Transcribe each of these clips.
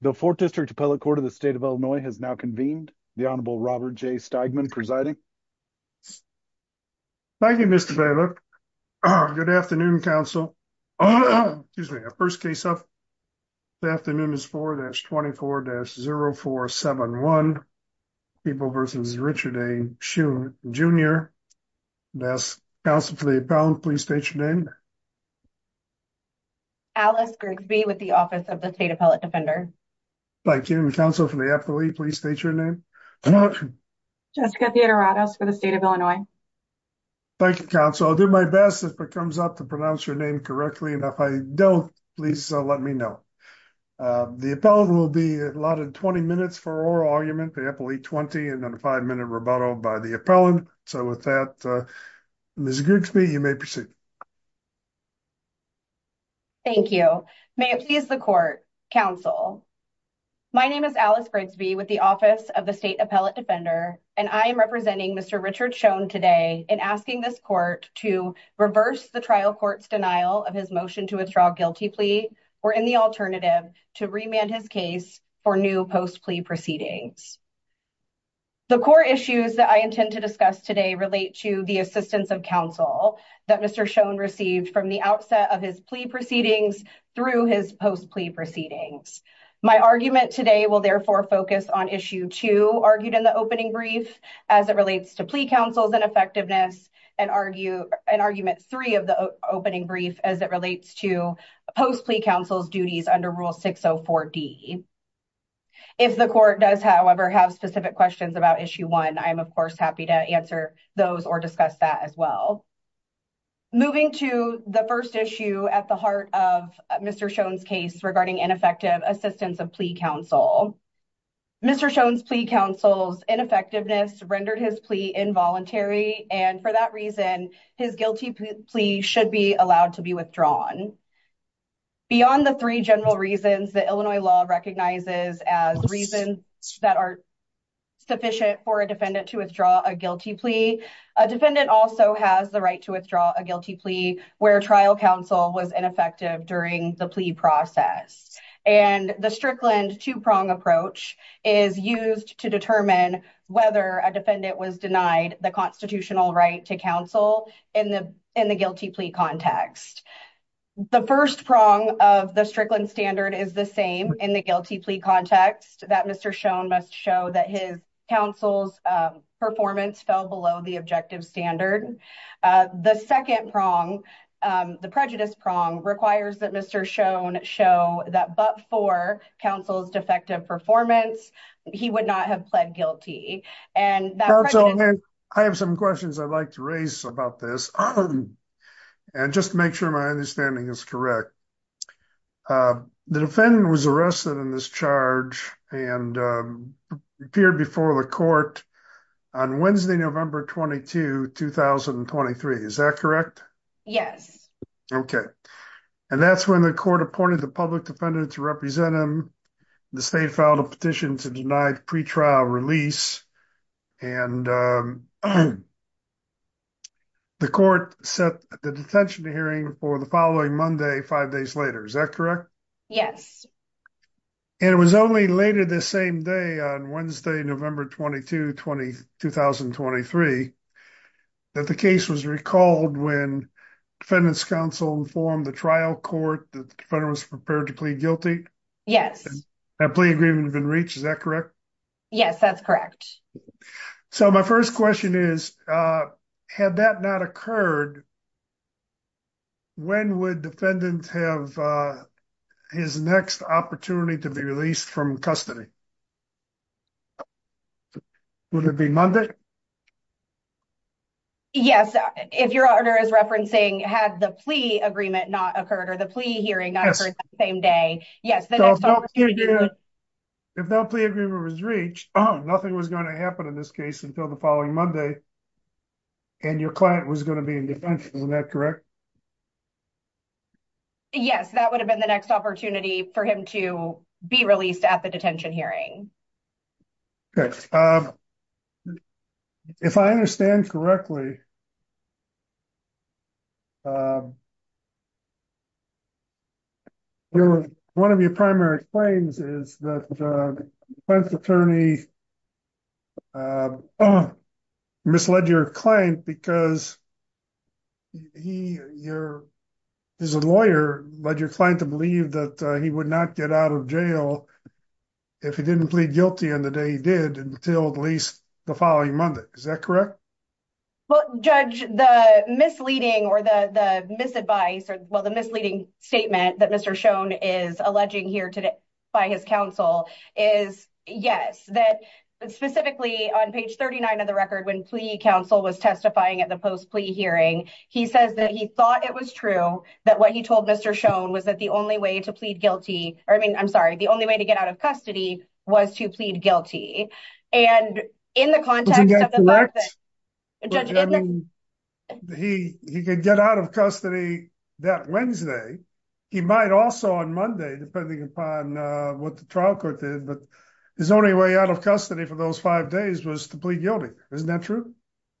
The 4th District Appellate Court of the State of Illinois has now convened. The Honorable Robert J. Steigman presiding. Thank you, Mr. Bailiff. Good afternoon, counsel. Excuse me, first case of the afternoon is 4-24-0471. People v. Richard A. Schoon, Jr. I ask counsel for the appellant, please state your name. Alice Grigsby with the Office of the State Appellate Defender. Thank you. Counsel for the appellate, please state your name. Jessica Theodoratos for the State of Illinois. Thank you, counsel. I'll do my best if it comes up to pronounce your name correctly, and if I don't, please let me know. The appellant will be allotted 20 minutes for oral argument, the appellate 20, and then a 5-minute rebuttal by the appellant. So with that, Ms. Grigsby, you may proceed. Thank you. May it please the court, counsel. My name is Alice Grigsby with the Office of the State Appellate Defender, and I am representing Mr. Richard Schoon today in asking this court to reverse the trial court's denial of his motion to withdraw guilty plea, or in the alternative, to remand his case for new post-plea proceedings. The core issues that I intend to discuss today relate to the assistance of counsel that Mr. Schoon received from the outset of his plea proceedings through his post-plea proceedings. My argument today will therefore focus on Issue 2, argued in the opening brief, as it relates to plea counsel's ineffectiveness, and Argument 3 of the opening brief, as it relates to post-plea counsel's duties under Rule 604D. If the court does, however, have specific questions about Issue 1, I am of course happy to answer those or discuss that as well. Moving to the first issue at the heart of Mr. Schoon's case regarding ineffective assistance of plea counsel. Mr. Schoon's plea counsel's ineffectiveness rendered his plea involuntary, and for that reason, his guilty plea should be allowed to be withdrawn. Beyond the three general reasons that Illinois law recognizes as reasons that are sufficient for a defendant to withdraw a guilty plea, a defendant also has the right to withdraw a guilty plea where trial counsel was ineffective during the plea process. And the Strickland two-prong approach is used to determine whether a defendant was denied the constitutional right to counsel in the guilty plea context. The first prong of the Strickland standard is the same in the guilty plea context, that Mr. Schoon must show that his counsel's performance fell below the objective standard. The second prong, the prejudice prong, requires that Mr. Schoon show that but for counsel's defective performance, he would not have pled guilty. I have some questions I'd like to raise about this and just make sure my understanding is correct. The defendant was arrested in this charge and appeared before the court on Wednesday, November 22, 2023. Is that correct? Yes. Okay. And that's when the court appointed the public defendant to represent him. The state filed a petition to deny pre-trial release. And the court set the detention hearing for the following Monday, five days later. Is that correct? Yes. And it was only later the same day on Wednesday, November 22, 2023, that the case was recalled when defendant's counsel informed the trial court that the defendant was prepared to plead guilty? Yes. That plea agreement had been reached. Is that correct? Yes, that's correct. So my first question is, had that not occurred, when would defendant have his next opportunity to be released from custody? Would it be Monday? Yes. If your honor is referencing, had the plea agreement not occurred or the plea hearing not occurred that same day. If that plea agreement was reached, nothing was going to happen in this case until the following Monday, and your client was going to be in detention. Is that correct? Yes, that would have been the next opportunity for him to be released at the detention hearing. Okay. If I understand correctly, one of your primary claims is that the defense attorney misled your client because he, your, as a lawyer, led your client to believe that he would not get out of jail if he didn't plead guilty on the day he did until at least the following Monday. Is that correct? Well, Judge, the misleading or the misadvice, or well, the misleading statement that Mr. Schoen is alleging here today by his counsel is yes. That specifically on page 39 of the record, when plea counsel was testifying at the post plea hearing, he says that he thought it was true that what he told Mr. Schoen was that the only way to plead guilty, or I mean, I'm sorry, the only way to get out of custody was to plead guilty. And in the context of the fact that he could get out of custody that Wednesday, he might also on Monday, depending upon what the trial court did, but his only way out of custody for those five days was to plead guilty. Isn't that true?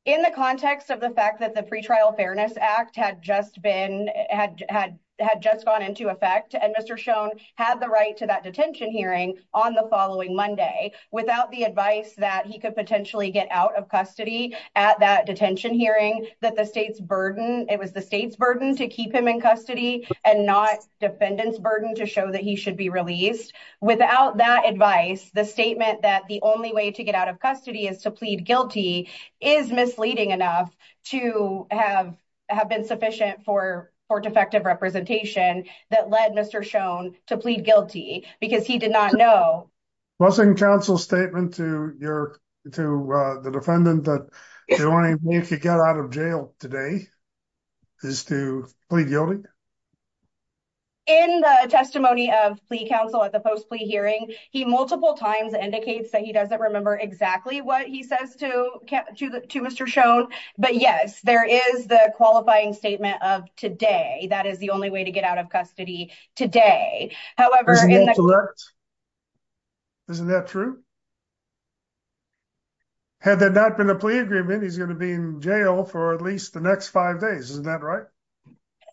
In the context of the fact that the Pretrial Fairness Act had just gone into effect and Mr. Schoen had the right to that detention hearing on the following Monday without the advice that he could potentially get out of custody at that detention hearing, that the state's burden, it was the state's burden to keep him in custody and not defendant's burden to show that he should be released. Without that advice, the statement that the only way to get out of custody is to plead guilty is misleading enough to have been sufficient for defective representation that led Mr. Schoen to plead guilty because he did not know. Wasn't counsel's statement to the defendant that the only way to get out of jail today is to plead guilty? In the testimony of plea counsel at the post plea hearing, he multiple times indicates that he doesn't remember exactly what he says to Mr. Schoen. But yes, there is the qualifying statement of today. That is the only way to get out of custody today. However, isn't that true? Had that not been a plea agreement, he's going to be in jail for at least the next five days. Isn't that right?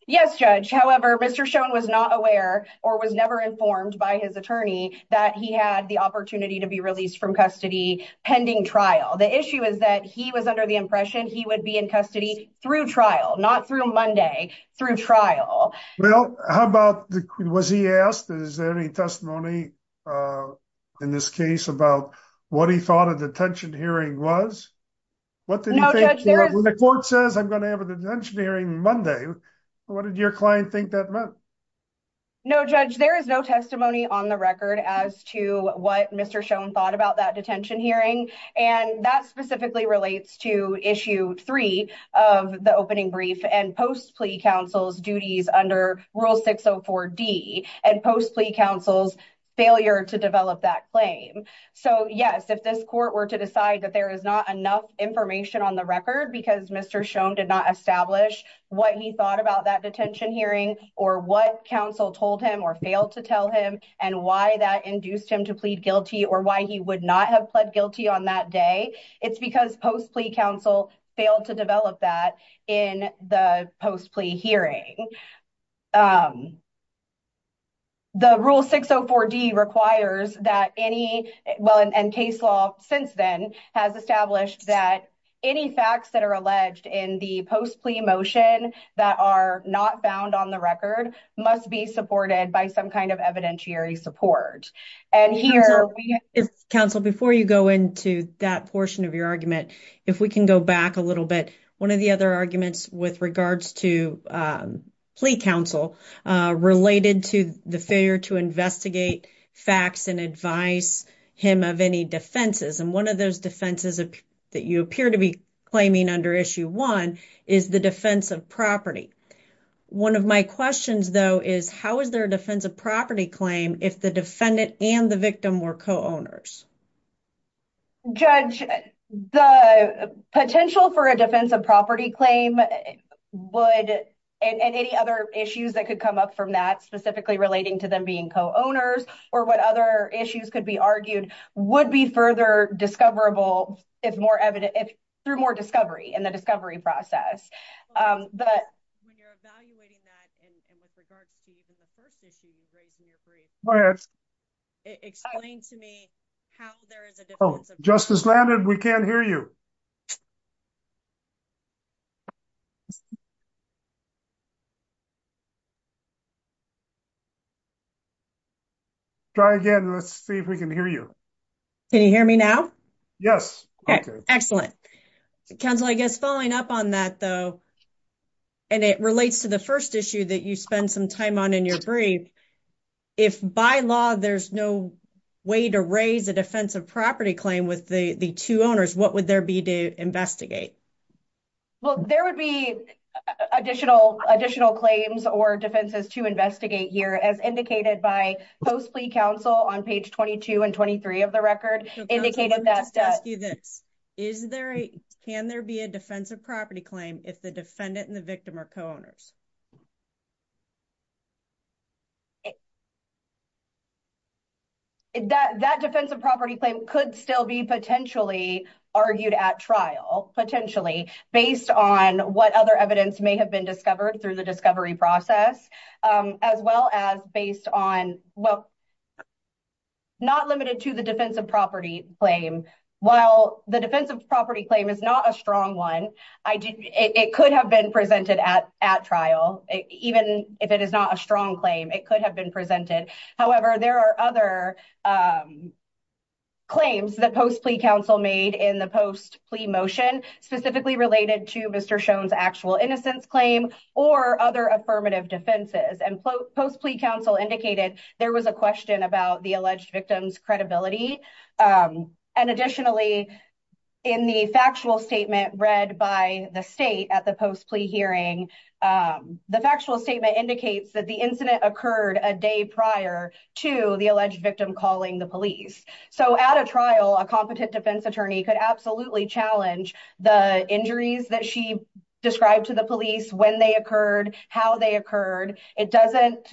Yes, Judge. However, Mr. Schoen was not aware or was never informed by his attorney that he had the opportunity to be released from custody pending trial. The issue is that he was under the impression he would be in custody through trial, not through Monday, through trial. Well, how about, was he asked, is there any testimony in this case about what he thought a detention hearing was? When the court says I'm going to have a detention hearing Monday, what did your client think that meant? No, Judge, there is no testimony on the record as to what Mr. Schoen thought about that detention hearing. And that specifically relates to issue three of the opening brief and post plea counsel's duties under rule 604 D and post plea counsel's failure to develop that claim. So, yes, if this court were to decide that there is not enough information on the record because Mr. Schoen did not establish what he thought about that detention hearing or what counsel told him or failed to tell him and why that induced him to plead guilty or why he would not have pled guilty on that day. It's because post plea counsel failed to develop that in the post plea hearing. The rule 604 D requires that anyone and case law since then has established that any facts that are alleged in the post plea motion that are not found on the record must be supported by some kind of evidentiary support. Counsel, before you go into that portion of your argument, if we can go back a little bit, one of the other arguments with regards to plea counsel related to the failure to investigate facts and advice him of any defenses. And one of those defenses that you appear to be claiming under issue one is the defense of property. One of my questions, though, is how is there a defense of property claim if the defendant and the victim were co-owners? Judge, the potential for a defense of property claim would and any other issues that could come up from that specifically relating to them being co-owners or what other issues could be argued would be further discoverable if more evident if through more discovery and the discovery process. But when you're evaluating that and with regards to the first issue you've raised in your brief. Explain to me how there is a justice landed. We can't hear you. Try again. Let's see if we can hear you. Can you hear me now? Yes. Excellent. Counsel, I guess, following up on that, though. And it relates to the 1st issue that you spend some time on in your brief. If by law, there's no way to raise a defense of property claim with the 2 owners, what would there be to investigate? Well, there would be additional additional claims or defenses to investigate here as indicated by post plea counsel on page 22 and 23 of the record indicated that. Is there a can there be a defense of property claim if the defendant and the victim or co-owners. That that defense of property claim could still be potentially argued at trial potentially based on what other evidence may have been discovered through the discovery process as well as based on. Not limited to the defense of property claim, while the defense of property claim is not a strong 1. It could have been presented at at trial, even if it is not a strong claim, it could have been presented. However, there are other. Claims that post plea counsel made in the post plea motion, specifically related to Mr. Shown's actual innocence claim or other affirmative defenses and post plea counsel indicated there was a question about the alleged victims credibility. And additionally, in the factual statement read by the state at the post plea hearing. The factual statement indicates that the incident occurred a day prior to the alleged victim calling the police. So at a trial, a competent defense attorney could absolutely challenge the injuries that she described to the police when they occurred, how they occurred. It doesn't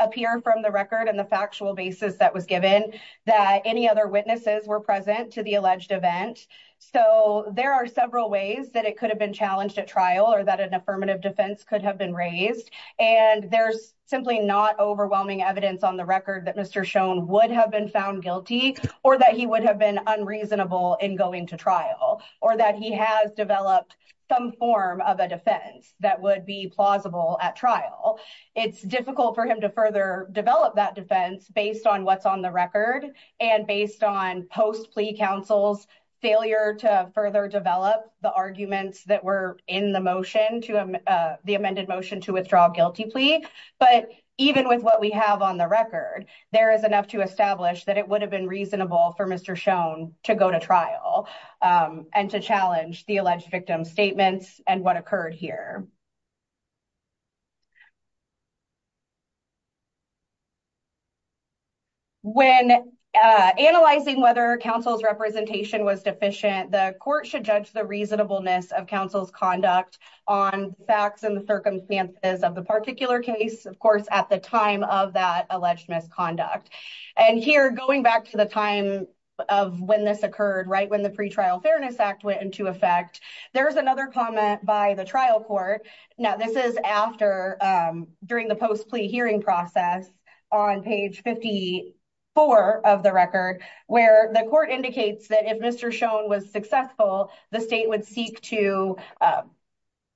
appear from the record and the factual basis that was given that any other witnesses were present to the alleged event. So there are several ways that it could have been challenged at trial or that an affirmative defense could have been raised. And there's simply not overwhelming evidence on the record that Mr shown would have been found guilty or that he would have been unreasonable in going to trial or that he has developed some form of a defense that would be plausible at trial. It's difficult for him to further develop that defense based on what's on the record and based on post plea counsel's failure to further develop the arguments that were in the motion to the amended motion to withdraw guilty plea. But even with what we have on the record, there is enough to establish that it would have been reasonable for Mr shown to go to trial and to challenge the alleged victim statements and what occurred here. When analyzing whether counsel's representation was deficient, the court should judge the reasonableness of counsel's conduct on facts and the circumstances of the particular case. Of course, at the time of that alleged misconduct and here, going back to the time of when this occurred, right? There's another comment by the trial court. Now, this is after during the post plea hearing process on page 54 of the record where the court indicates that if Mr shown was successful, the state would seek to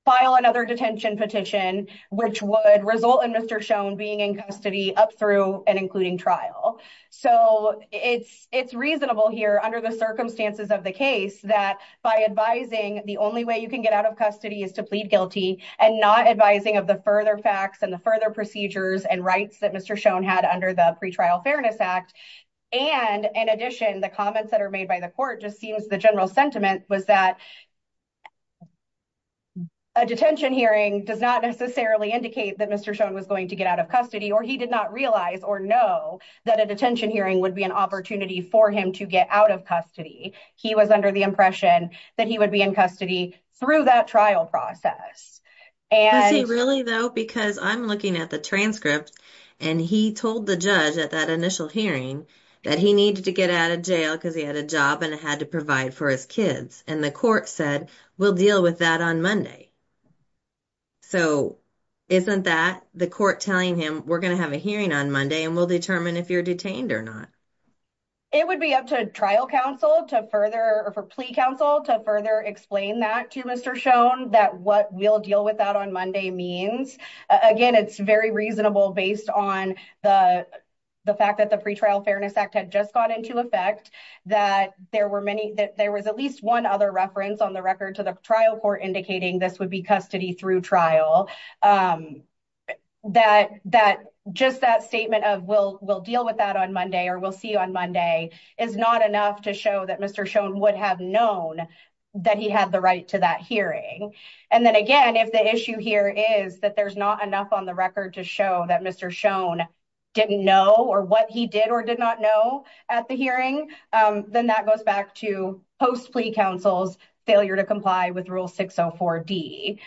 file another detention petition, which would result in Mr shown being in custody up through and including trial. So it's it's reasonable here under the circumstances of the case that by advising the only way you can get out of custody is to plead guilty and not advising of the further facts and the further procedures and rights that Mr shown had under the pretrial fairness act. And in addition, the comments that are made by the court just seems the general sentiment was that. A detention hearing does not necessarily indicate that Mr shown was going to get out of custody, or he did not realize or know that a detention hearing would be an opportunity for him to get out of custody. He was under the impression that he would be in custody through that trial process. And really, though, because I'm looking at the transcript and he told the judge at that initial hearing that he needed to get out of jail because he had a job and had to provide for his kids. And the court said, we'll deal with that on Monday. So, isn't that the court telling him we're going to have a hearing on Monday and we'll determine if you're detained or not. It would be up to trial counsel to further or for plea counsel to further explain that to Mr shown that what we'll deal with that on Monday means again, it's very reasonable based on the. The fact that the pretrial fairness act had just got into effect that there were many that there was at least 1 other reference on the record to the trial for indicating this would be custody through trial. That that just that statement of we'll, we'll deal with that on Monday, or we'll see you on Monday is not enough to show that Mr shown would have known that he had the right to that hearing. And then again, if the issue here is that there's not enough on the record to show that Mr shown didn't know or what he did or did not know at the hearing, then that goes back to post plea counsel's failure to comply with rule 604 D.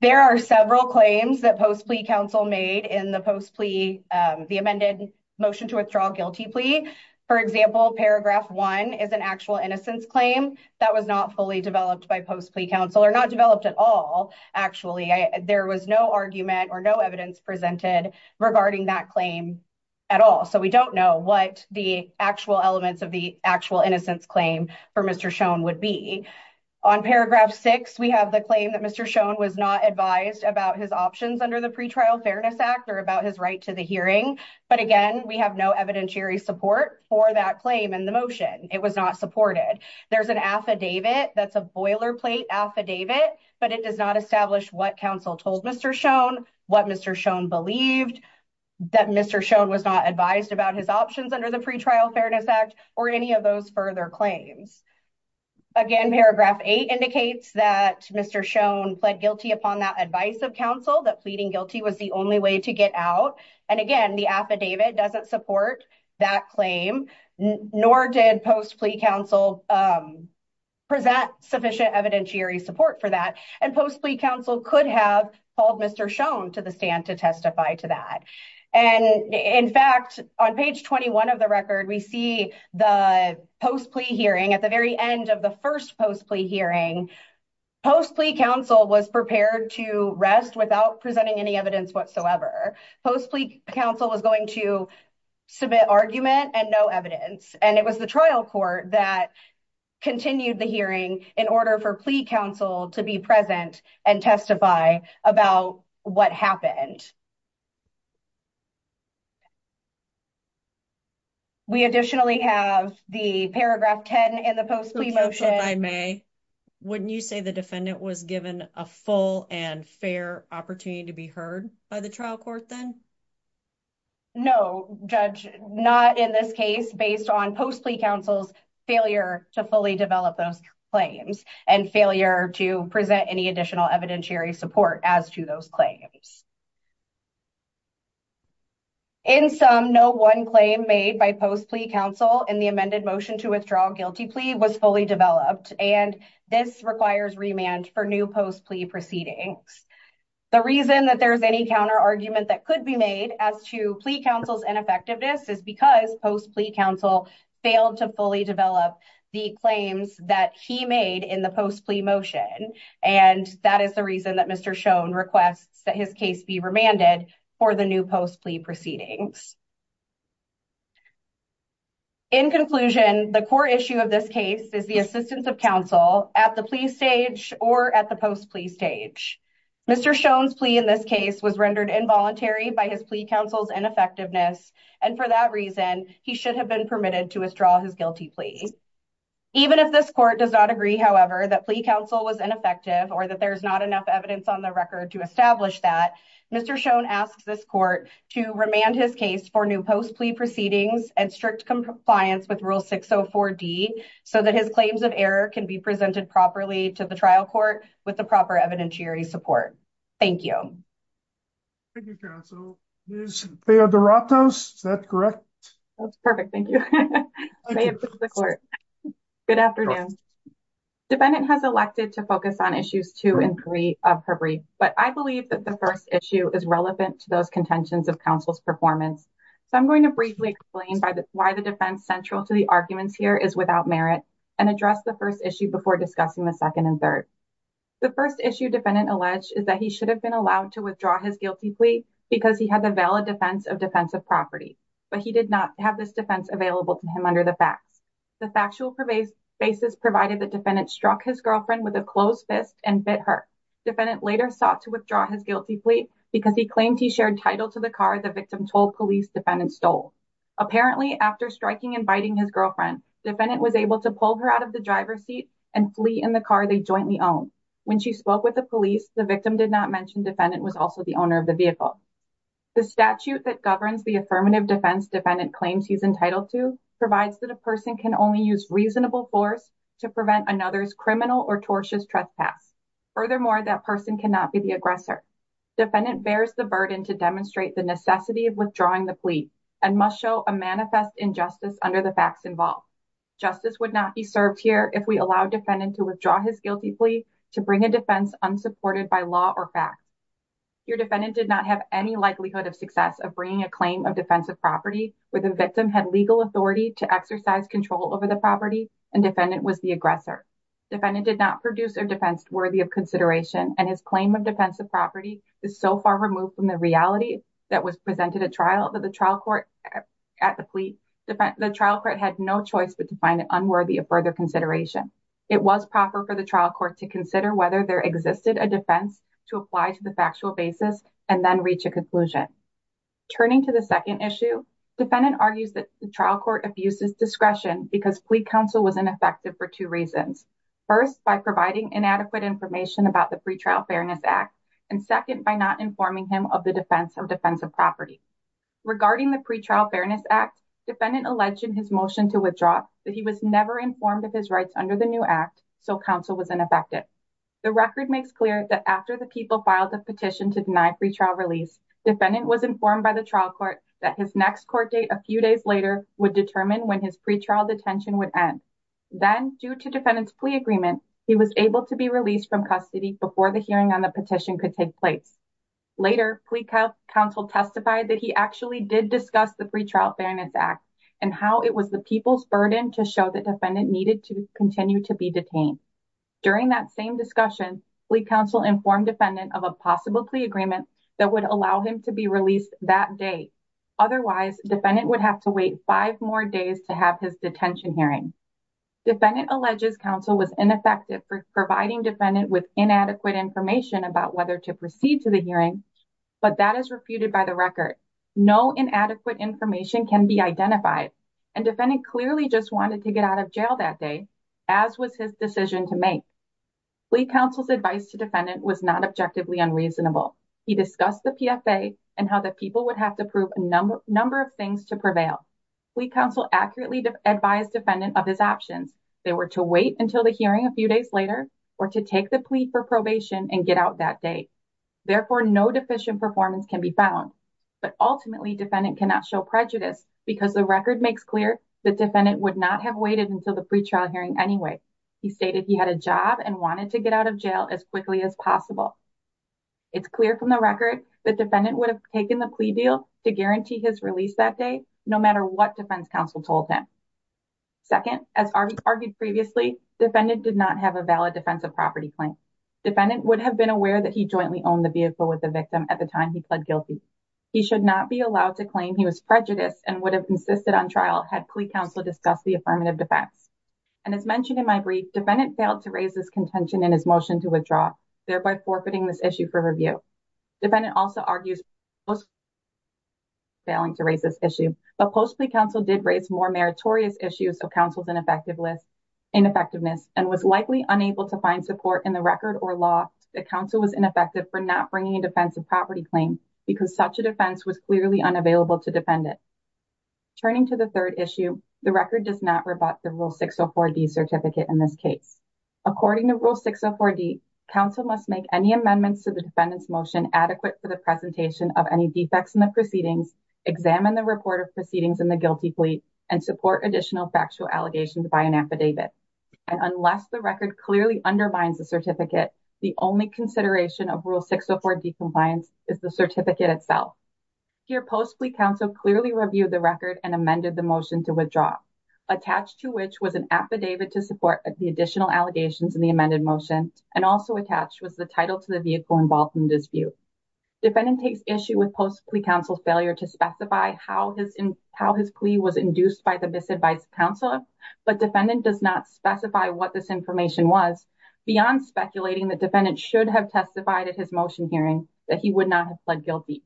There are several claims that post plea counsel made in the post plea, the amended motion to withdraw guilty plea. For example, paragraph 1 is an actual innocence claim that was not fully developed by post plea counsel or not developed at all. Actually, there was no argument or no evidence presented regarding that claim at all. So we don't know what the actual elements of the actual innocence claim for Mr shown would be on paragraph 6. We have the claim that Mr shown was not advised about his options under the pretrial fairness actor about his right to the hearing. But again, we have no evidentiary support for that claim in the motion. It was not supported. There's an affidavit that's a boilerplate affidavit, but it does not establish what counsel told Mr shown what Mr shown believed that Mr shown was not advised about his options under the pretrial fairness act or any of those further claims. Again, paragraph 8 indicates that Mr shown pled guilty upon that advice of counsel that pleading guilty was the only way to get out. And again, the affidavit doesn't support that claim, nor did post plea counsel present sufficient evidentiary support for that. And post plea counsel could have called Mr shown to the stand to testify to that. And in fact, on page 21 of the record, we see the post plea hearing at the very end of the first post plea hearing. Post plea counsel was prepared to rest without presenting any evidence whatsoever. Post plea counsel was going to submit argument and no evidence. And it was the trial court that continued the hearing in order for plea counsel to be present and testify about what happened. We additionally have the paragraph 10 in the post motion by May. Wouldn't you say the defendant was given a full and fair opportunity to be heard by the trial court then? No, judge, not in this case, based on post plea counsel's failure to fully develop those claims and failure to present any additional evidentiary support as to those claims. In some no one claim made by post plea counsel in the amended motion to withdraw guilty plea was fully developed, and this requires remand for new post plea proceedings. The reason that there's any counter argument that could be made as to plea counsel's ineffectiveness is because post plea counsel failed to fully develop the claims that he made in the post plea motion. And that is the reason that Mr shown requests that his case be remanded for the new post plea proceedings. In conclusion, the core issue of this case is the assistance of counsel at the plea stage or at the post plea stage. Mr. Shown's plea in this case was rendered involuntary by his plea counsel's ineffectiveness. And for that reason, he should have been permitted to withdraw his guilty plea. Even if this court does not agree, however, that plea counsel was ineffective or that there's not enough evidence on the record to establish that. Mr. Shown asks this court to remand his case for new post plea proceedings and strict compliance with rule 604 D. So that his claims of error can be presented properly to the trial court with the proper evidentiary support. Thank you. Thank you, counsel. Is that correct? That's perfect. Thank you. Good afternoon. Defendant has elected to focus on issues two and three of her brief. But I believe that the first issue is relevant to those contentions of counsel's performance. So I'm going to briefly explain why the defense central to the arguments here is without merit and address the first issue before discussing the second and third. The first issue defendant alleged is that he should have been allowed to withdraw his guilty plea because he had the valid defense of defensive property. But he did not have this defense available to him under the facts. The factual basis provided the defendant struck his girlfriend with a closed fist and bit her. Defendant later sought to withdraw his guilty plea because he claimed he shared title to the car the victim told police defendant stole. Apparently, after striking and biting his girlfriend, defendant was able to pull her out of the driver's seat and flee in the car they jointly own. When she spoke with the police, the victim did not mention defendant was also the owner of the vehicle. The statute that governs the affirmative defense defendant claims he's entitled to provides that a person can only use reasonable force to prevent another's criminal or tortious trespass. Furthermore, that person cannot be the aggressor. Defendant bears the burden to demonstrate the necessity of withdrawing the plea and must show a manifest injustice under the facts involved. Justice would not be served here if we allow defendant to withdraw his guilty plea to bring a defense unsupported by law or fact. Your defendant did not have any likelihood of success of bringing a claim of defensive property where the victim had legal authority to exercise control over the property and defendant was the aggressor. Defendant did not produce a defense worthy of consideration and his claim of defensive property is so far removed from the reality that was presented at trial that the trial court at the plea. The trial court had no choice but to find it unworthy of further consideration. It was proper for the trial court to consider whether there existed a defense to apply to the factual basis and then reach a conclusion. Turning to the second issue, defendant argues that the trial court abuses discretion because plea counsel was ineffective for two reasons. First, by providing inadequate information about the Pretrial Fairness Act and second, by not informing him of the defense of defensive property. Regarding the Pretrial Fairness Act, defendant alleged in his motion to withdraw that he was never informed of his rights under the new act, so counsel was ineffective. The record makes clear that after the people filed the petition to deny pretrial release, defendant was informed by the trial court that his next court date a few days later would determine when his pretrial detention would end. Then, due to defendant's plea agreement, he was able to be released from custody before the hearing on the petition could take place. Later, plea counsel testified that he actually did discuss the Pretrial Fairness Act and how it was the people's burden to show that defendant needed to continue to be detained. During that same discussion, plea counsel informed defendant of a possible plea agreement that would allow him to be released that day. Otherwise, defendant would have to wait five more days to have his detention hearing. Defendant alleges counsel was ineffective for providing defendant with inadequate information about whether to proceed to the hearing, but that is refuted by the record. No inadequate information can be identified, and defendant clearly just wanted to get out of jail that day, as was his decision to make. Plea counsel's advice to defendant was not objectively unreasonable. He discussed the PFA and how the people would have to prove a number of things to prevail. Plea counsel accurately advised defendant of his options. They were to wait until the hearing a few days later, or to take the plea for probation and get out that day. Therefore, no deficient performance can be found. But ultimately, defendant cannot show prejudice because the record makes clear that defendant would not have waited until the pretrial hearing anyway. He stated he had a job and wanted to get out of jail as quickly as possible. It's clear from the record that defendant would have taken the plea deal to guarantee his release that day, no matter what defense counsel told him. Second, as argued previously, defendant did not have a valid defense of property claim. Defendant would have been aware that he jointly owned the vehicle with the victim at the time he pled guilty. He should not be allowed to claim he was prejudiced and would have insisted on trial had plea counsel discussed the affirmative defense. And as mentioned in my brief, defendant failed to raise his contention in his motion to withdraw, thereby forfeiting this issue for review. Defendant also argues, failing to raise this issue, but possibly counsel did raise more meritorious issues of counsel's ineffectiveness and was likely unable to find support in the record or law that counsel was ineffective for not bringing a defense of property claim because such a defense was clearly unavailable to defendant. Turning to the third issue, the record does not rebut the Rule 604D certificate in this case. According to Rule 604D, counsel must make any amendments to the defendant's motion adequate for the presentation of any defects in the proceedings, examine the report of proceedings in the guilty plea, and support additional factual allegations by an affidavit. And unless the record clearly undermines the certificate, the only consideration of Rule 604D compliance is the certificate itself. Here, post-plea counsel clearly reviewed the record and amended the motion to withdraw, attached to which was an affidavit to support the additional allegations in the amended motion, and also attached was the title to the vehicle involved in the dispute. Defendant takes issue with post-plea counsel's failure to specify how his plea was induced by the misadvised counsel, but defendant does not specify what this information was, beyond speculating that defendant should have testified at his motion hearing that he would not have pled guilty.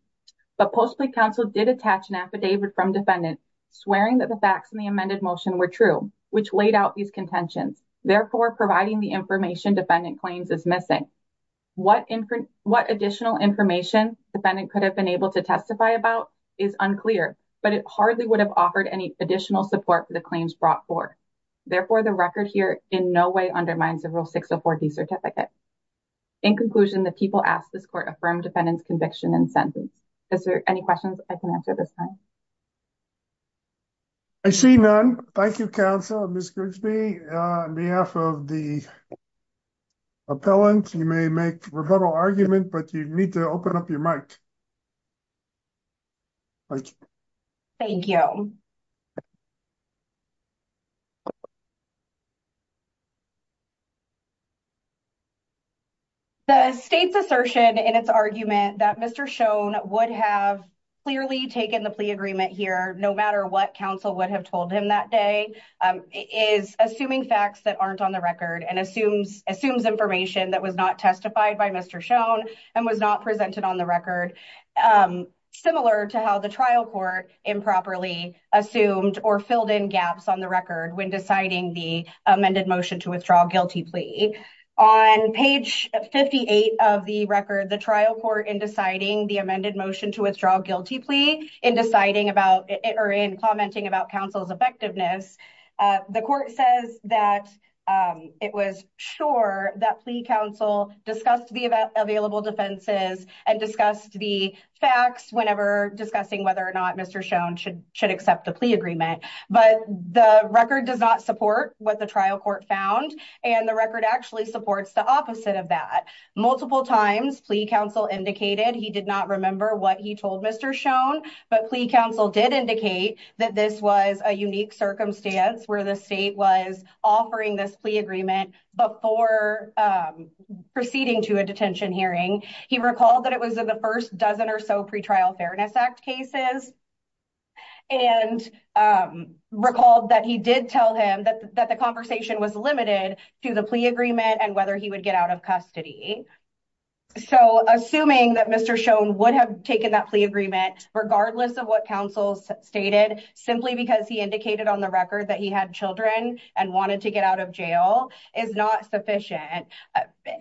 But post-plea counsel did attach an affidavit from defendant swearing that the facts in the amended motion were true, which laid out these contentions, therefore providing the information defendant claims as missing. What additional information defendant could have been able to testify about is unclear, but it hardly would have offered any additional support for the claims brought forth. Therefore, the record here in no way undermines the Rule 604D certificate. In conclusion, the people asked this court affirm defendant's conviction and sentence. Is there any questions I can answer at this time? I see none. Thank you, counsel. Ms. Grigsby, on behalf of the appellant, you may make a rebuttal argument, but you need to open up your mic. Thank you. The state's assertion in its argument that Mr. Schoen would have clearly taken the plea agreement here, no matter what counsel would have told him that day, is assuming facts that aren't on the record, and assumes information that was not testified by Mr. Schoen and was not presented on the record, similar to how the trial court improperly assumed or filled in gaps on the record when deciding the amended motion to withdraw guilty plea. On page 58 of the record, the trial court, in deciding the amended motion to withdraw guilty plea, in commenting about counsel's effectiveness, the court says that it was sure that plea counsel discussed the available defenses and discussed the facts whenever discussing whether or not Mr. Schoen should accept the plea agreement. But the record does not support what the trial court found, and the record actually supports the opposite of that. Multiple times, plea counsel indicated he did not remember what he told Mr. Schoen, but plea counsel did indicate that this was a unique circumstance where the state was offering this plea agreement before proceeding to a detention hearing. He recalled that it was in the first dozen or so Pretrial Fairness Act cases, and recalled that he did tell him that the conversation was limited to the plea agreement and whether he would get out of custody. So, assuming that Mr. Schoen would have taken that plea agreement, regardless of what counsel stated, simply because he indicated on the record that he had children and wanted to get out of jail, is not sufficient.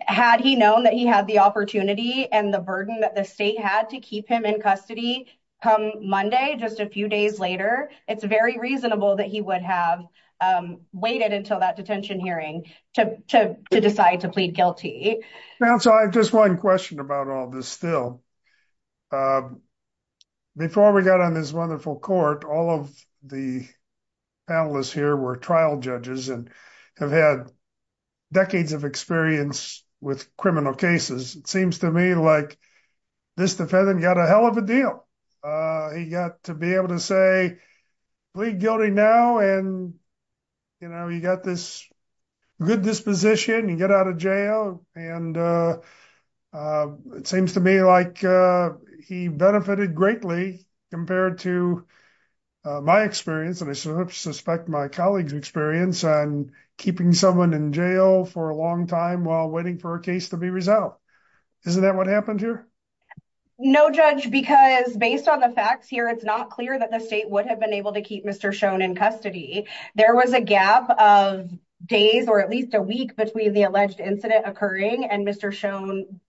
Had he known that he had the opportunity and the burden that the state had to keep him in custody come Monday, just a few days later, it's very reasonable that he would have waited until that detention hearing to decide to plead guilty. Counsel, I have just one question about all this still. Before we got on this wonderful court, all of the panelists here were trial judges and have had decades of experience with criminal cases. It seems to me like this defendant got a hell of a deal. He got to be able to say, plead guilty now. And, you know, you got this good disposition. You get out of jail. And it seems to me like he benefited greatly compared to my experience, and I suspect my colleagues' experience, on keeping someone in jail for a long time while waiting for a case to be resolved. Isn't that what happened here? No, Judge, because based on the facts here, it's not clear that the state would have been able to keep Mr. Schoen in custody. There was a gap of days or at least a week between the alleged incident occurring and Mr. Schoen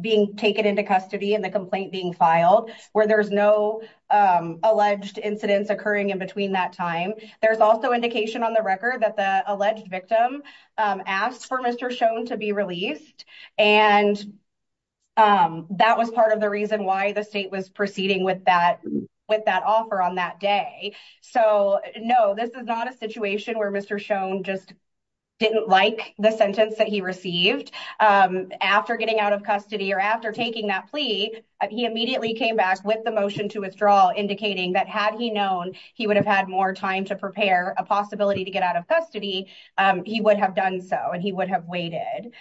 being taken into custody and the complaint being filed, where there's no alleged incidents occurring in between that time. There's also indication on the record that the alleged victim asked for Mr. Schoen to be released, and that was part of the reason why the state was proceeding with that offer on that day. So, no, this is not a situation where Mr. Schoen just didn't like the sentence that he received. After getting out of custody or after taking that plea, he immediately came back with the motion to withdraw, indicating that had he known he would have had more time to prepare a possibility to get out of custody, he would have done so and he would have waited.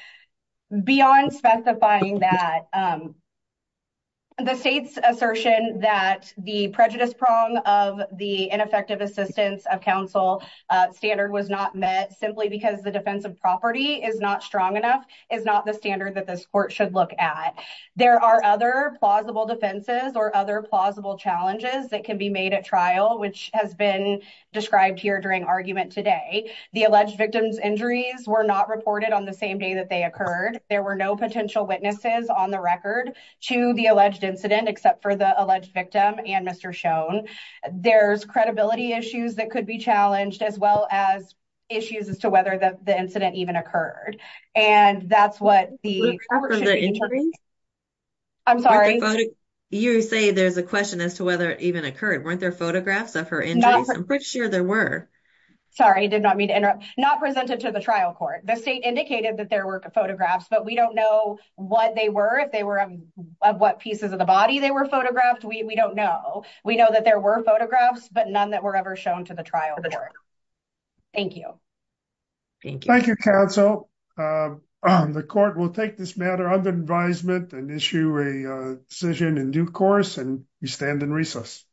Beyond specifying that, the state's assertion that the prejudice prong of the ineffective assistance of counsel standard was not met simply because the defense of property is not strong enough is not the standard that this court should look at. There are other plausible defenses or other plausible challenges that can be made at trial, which has been described here during argument today. The alleged victim's injuries were not reported on the same day that they occurred. There were no potential witnesses on the record to the alleged incident, except for the alleged victim and Mr. Schoen. There's credibility issues that could be challenged, as well as issues as to whether the incident even occurred. And that's what the interview. I'm sorry. You say there's a question as to whether it even occurred. Weren't there photographs of her? I'm pretty sure there were. Sorry, did not mean to interrupt. Not presented to the trial court. The state indicated that there were photographs, but we don't know what they were. If they were what pieces of the body they were photographed. We don't know. We know that there were photographs, but none that were ever shown to the trial. Thank you. Thank you, counsel. The court will take this matter under advisement and issue a decision in due course. And you stand in recess.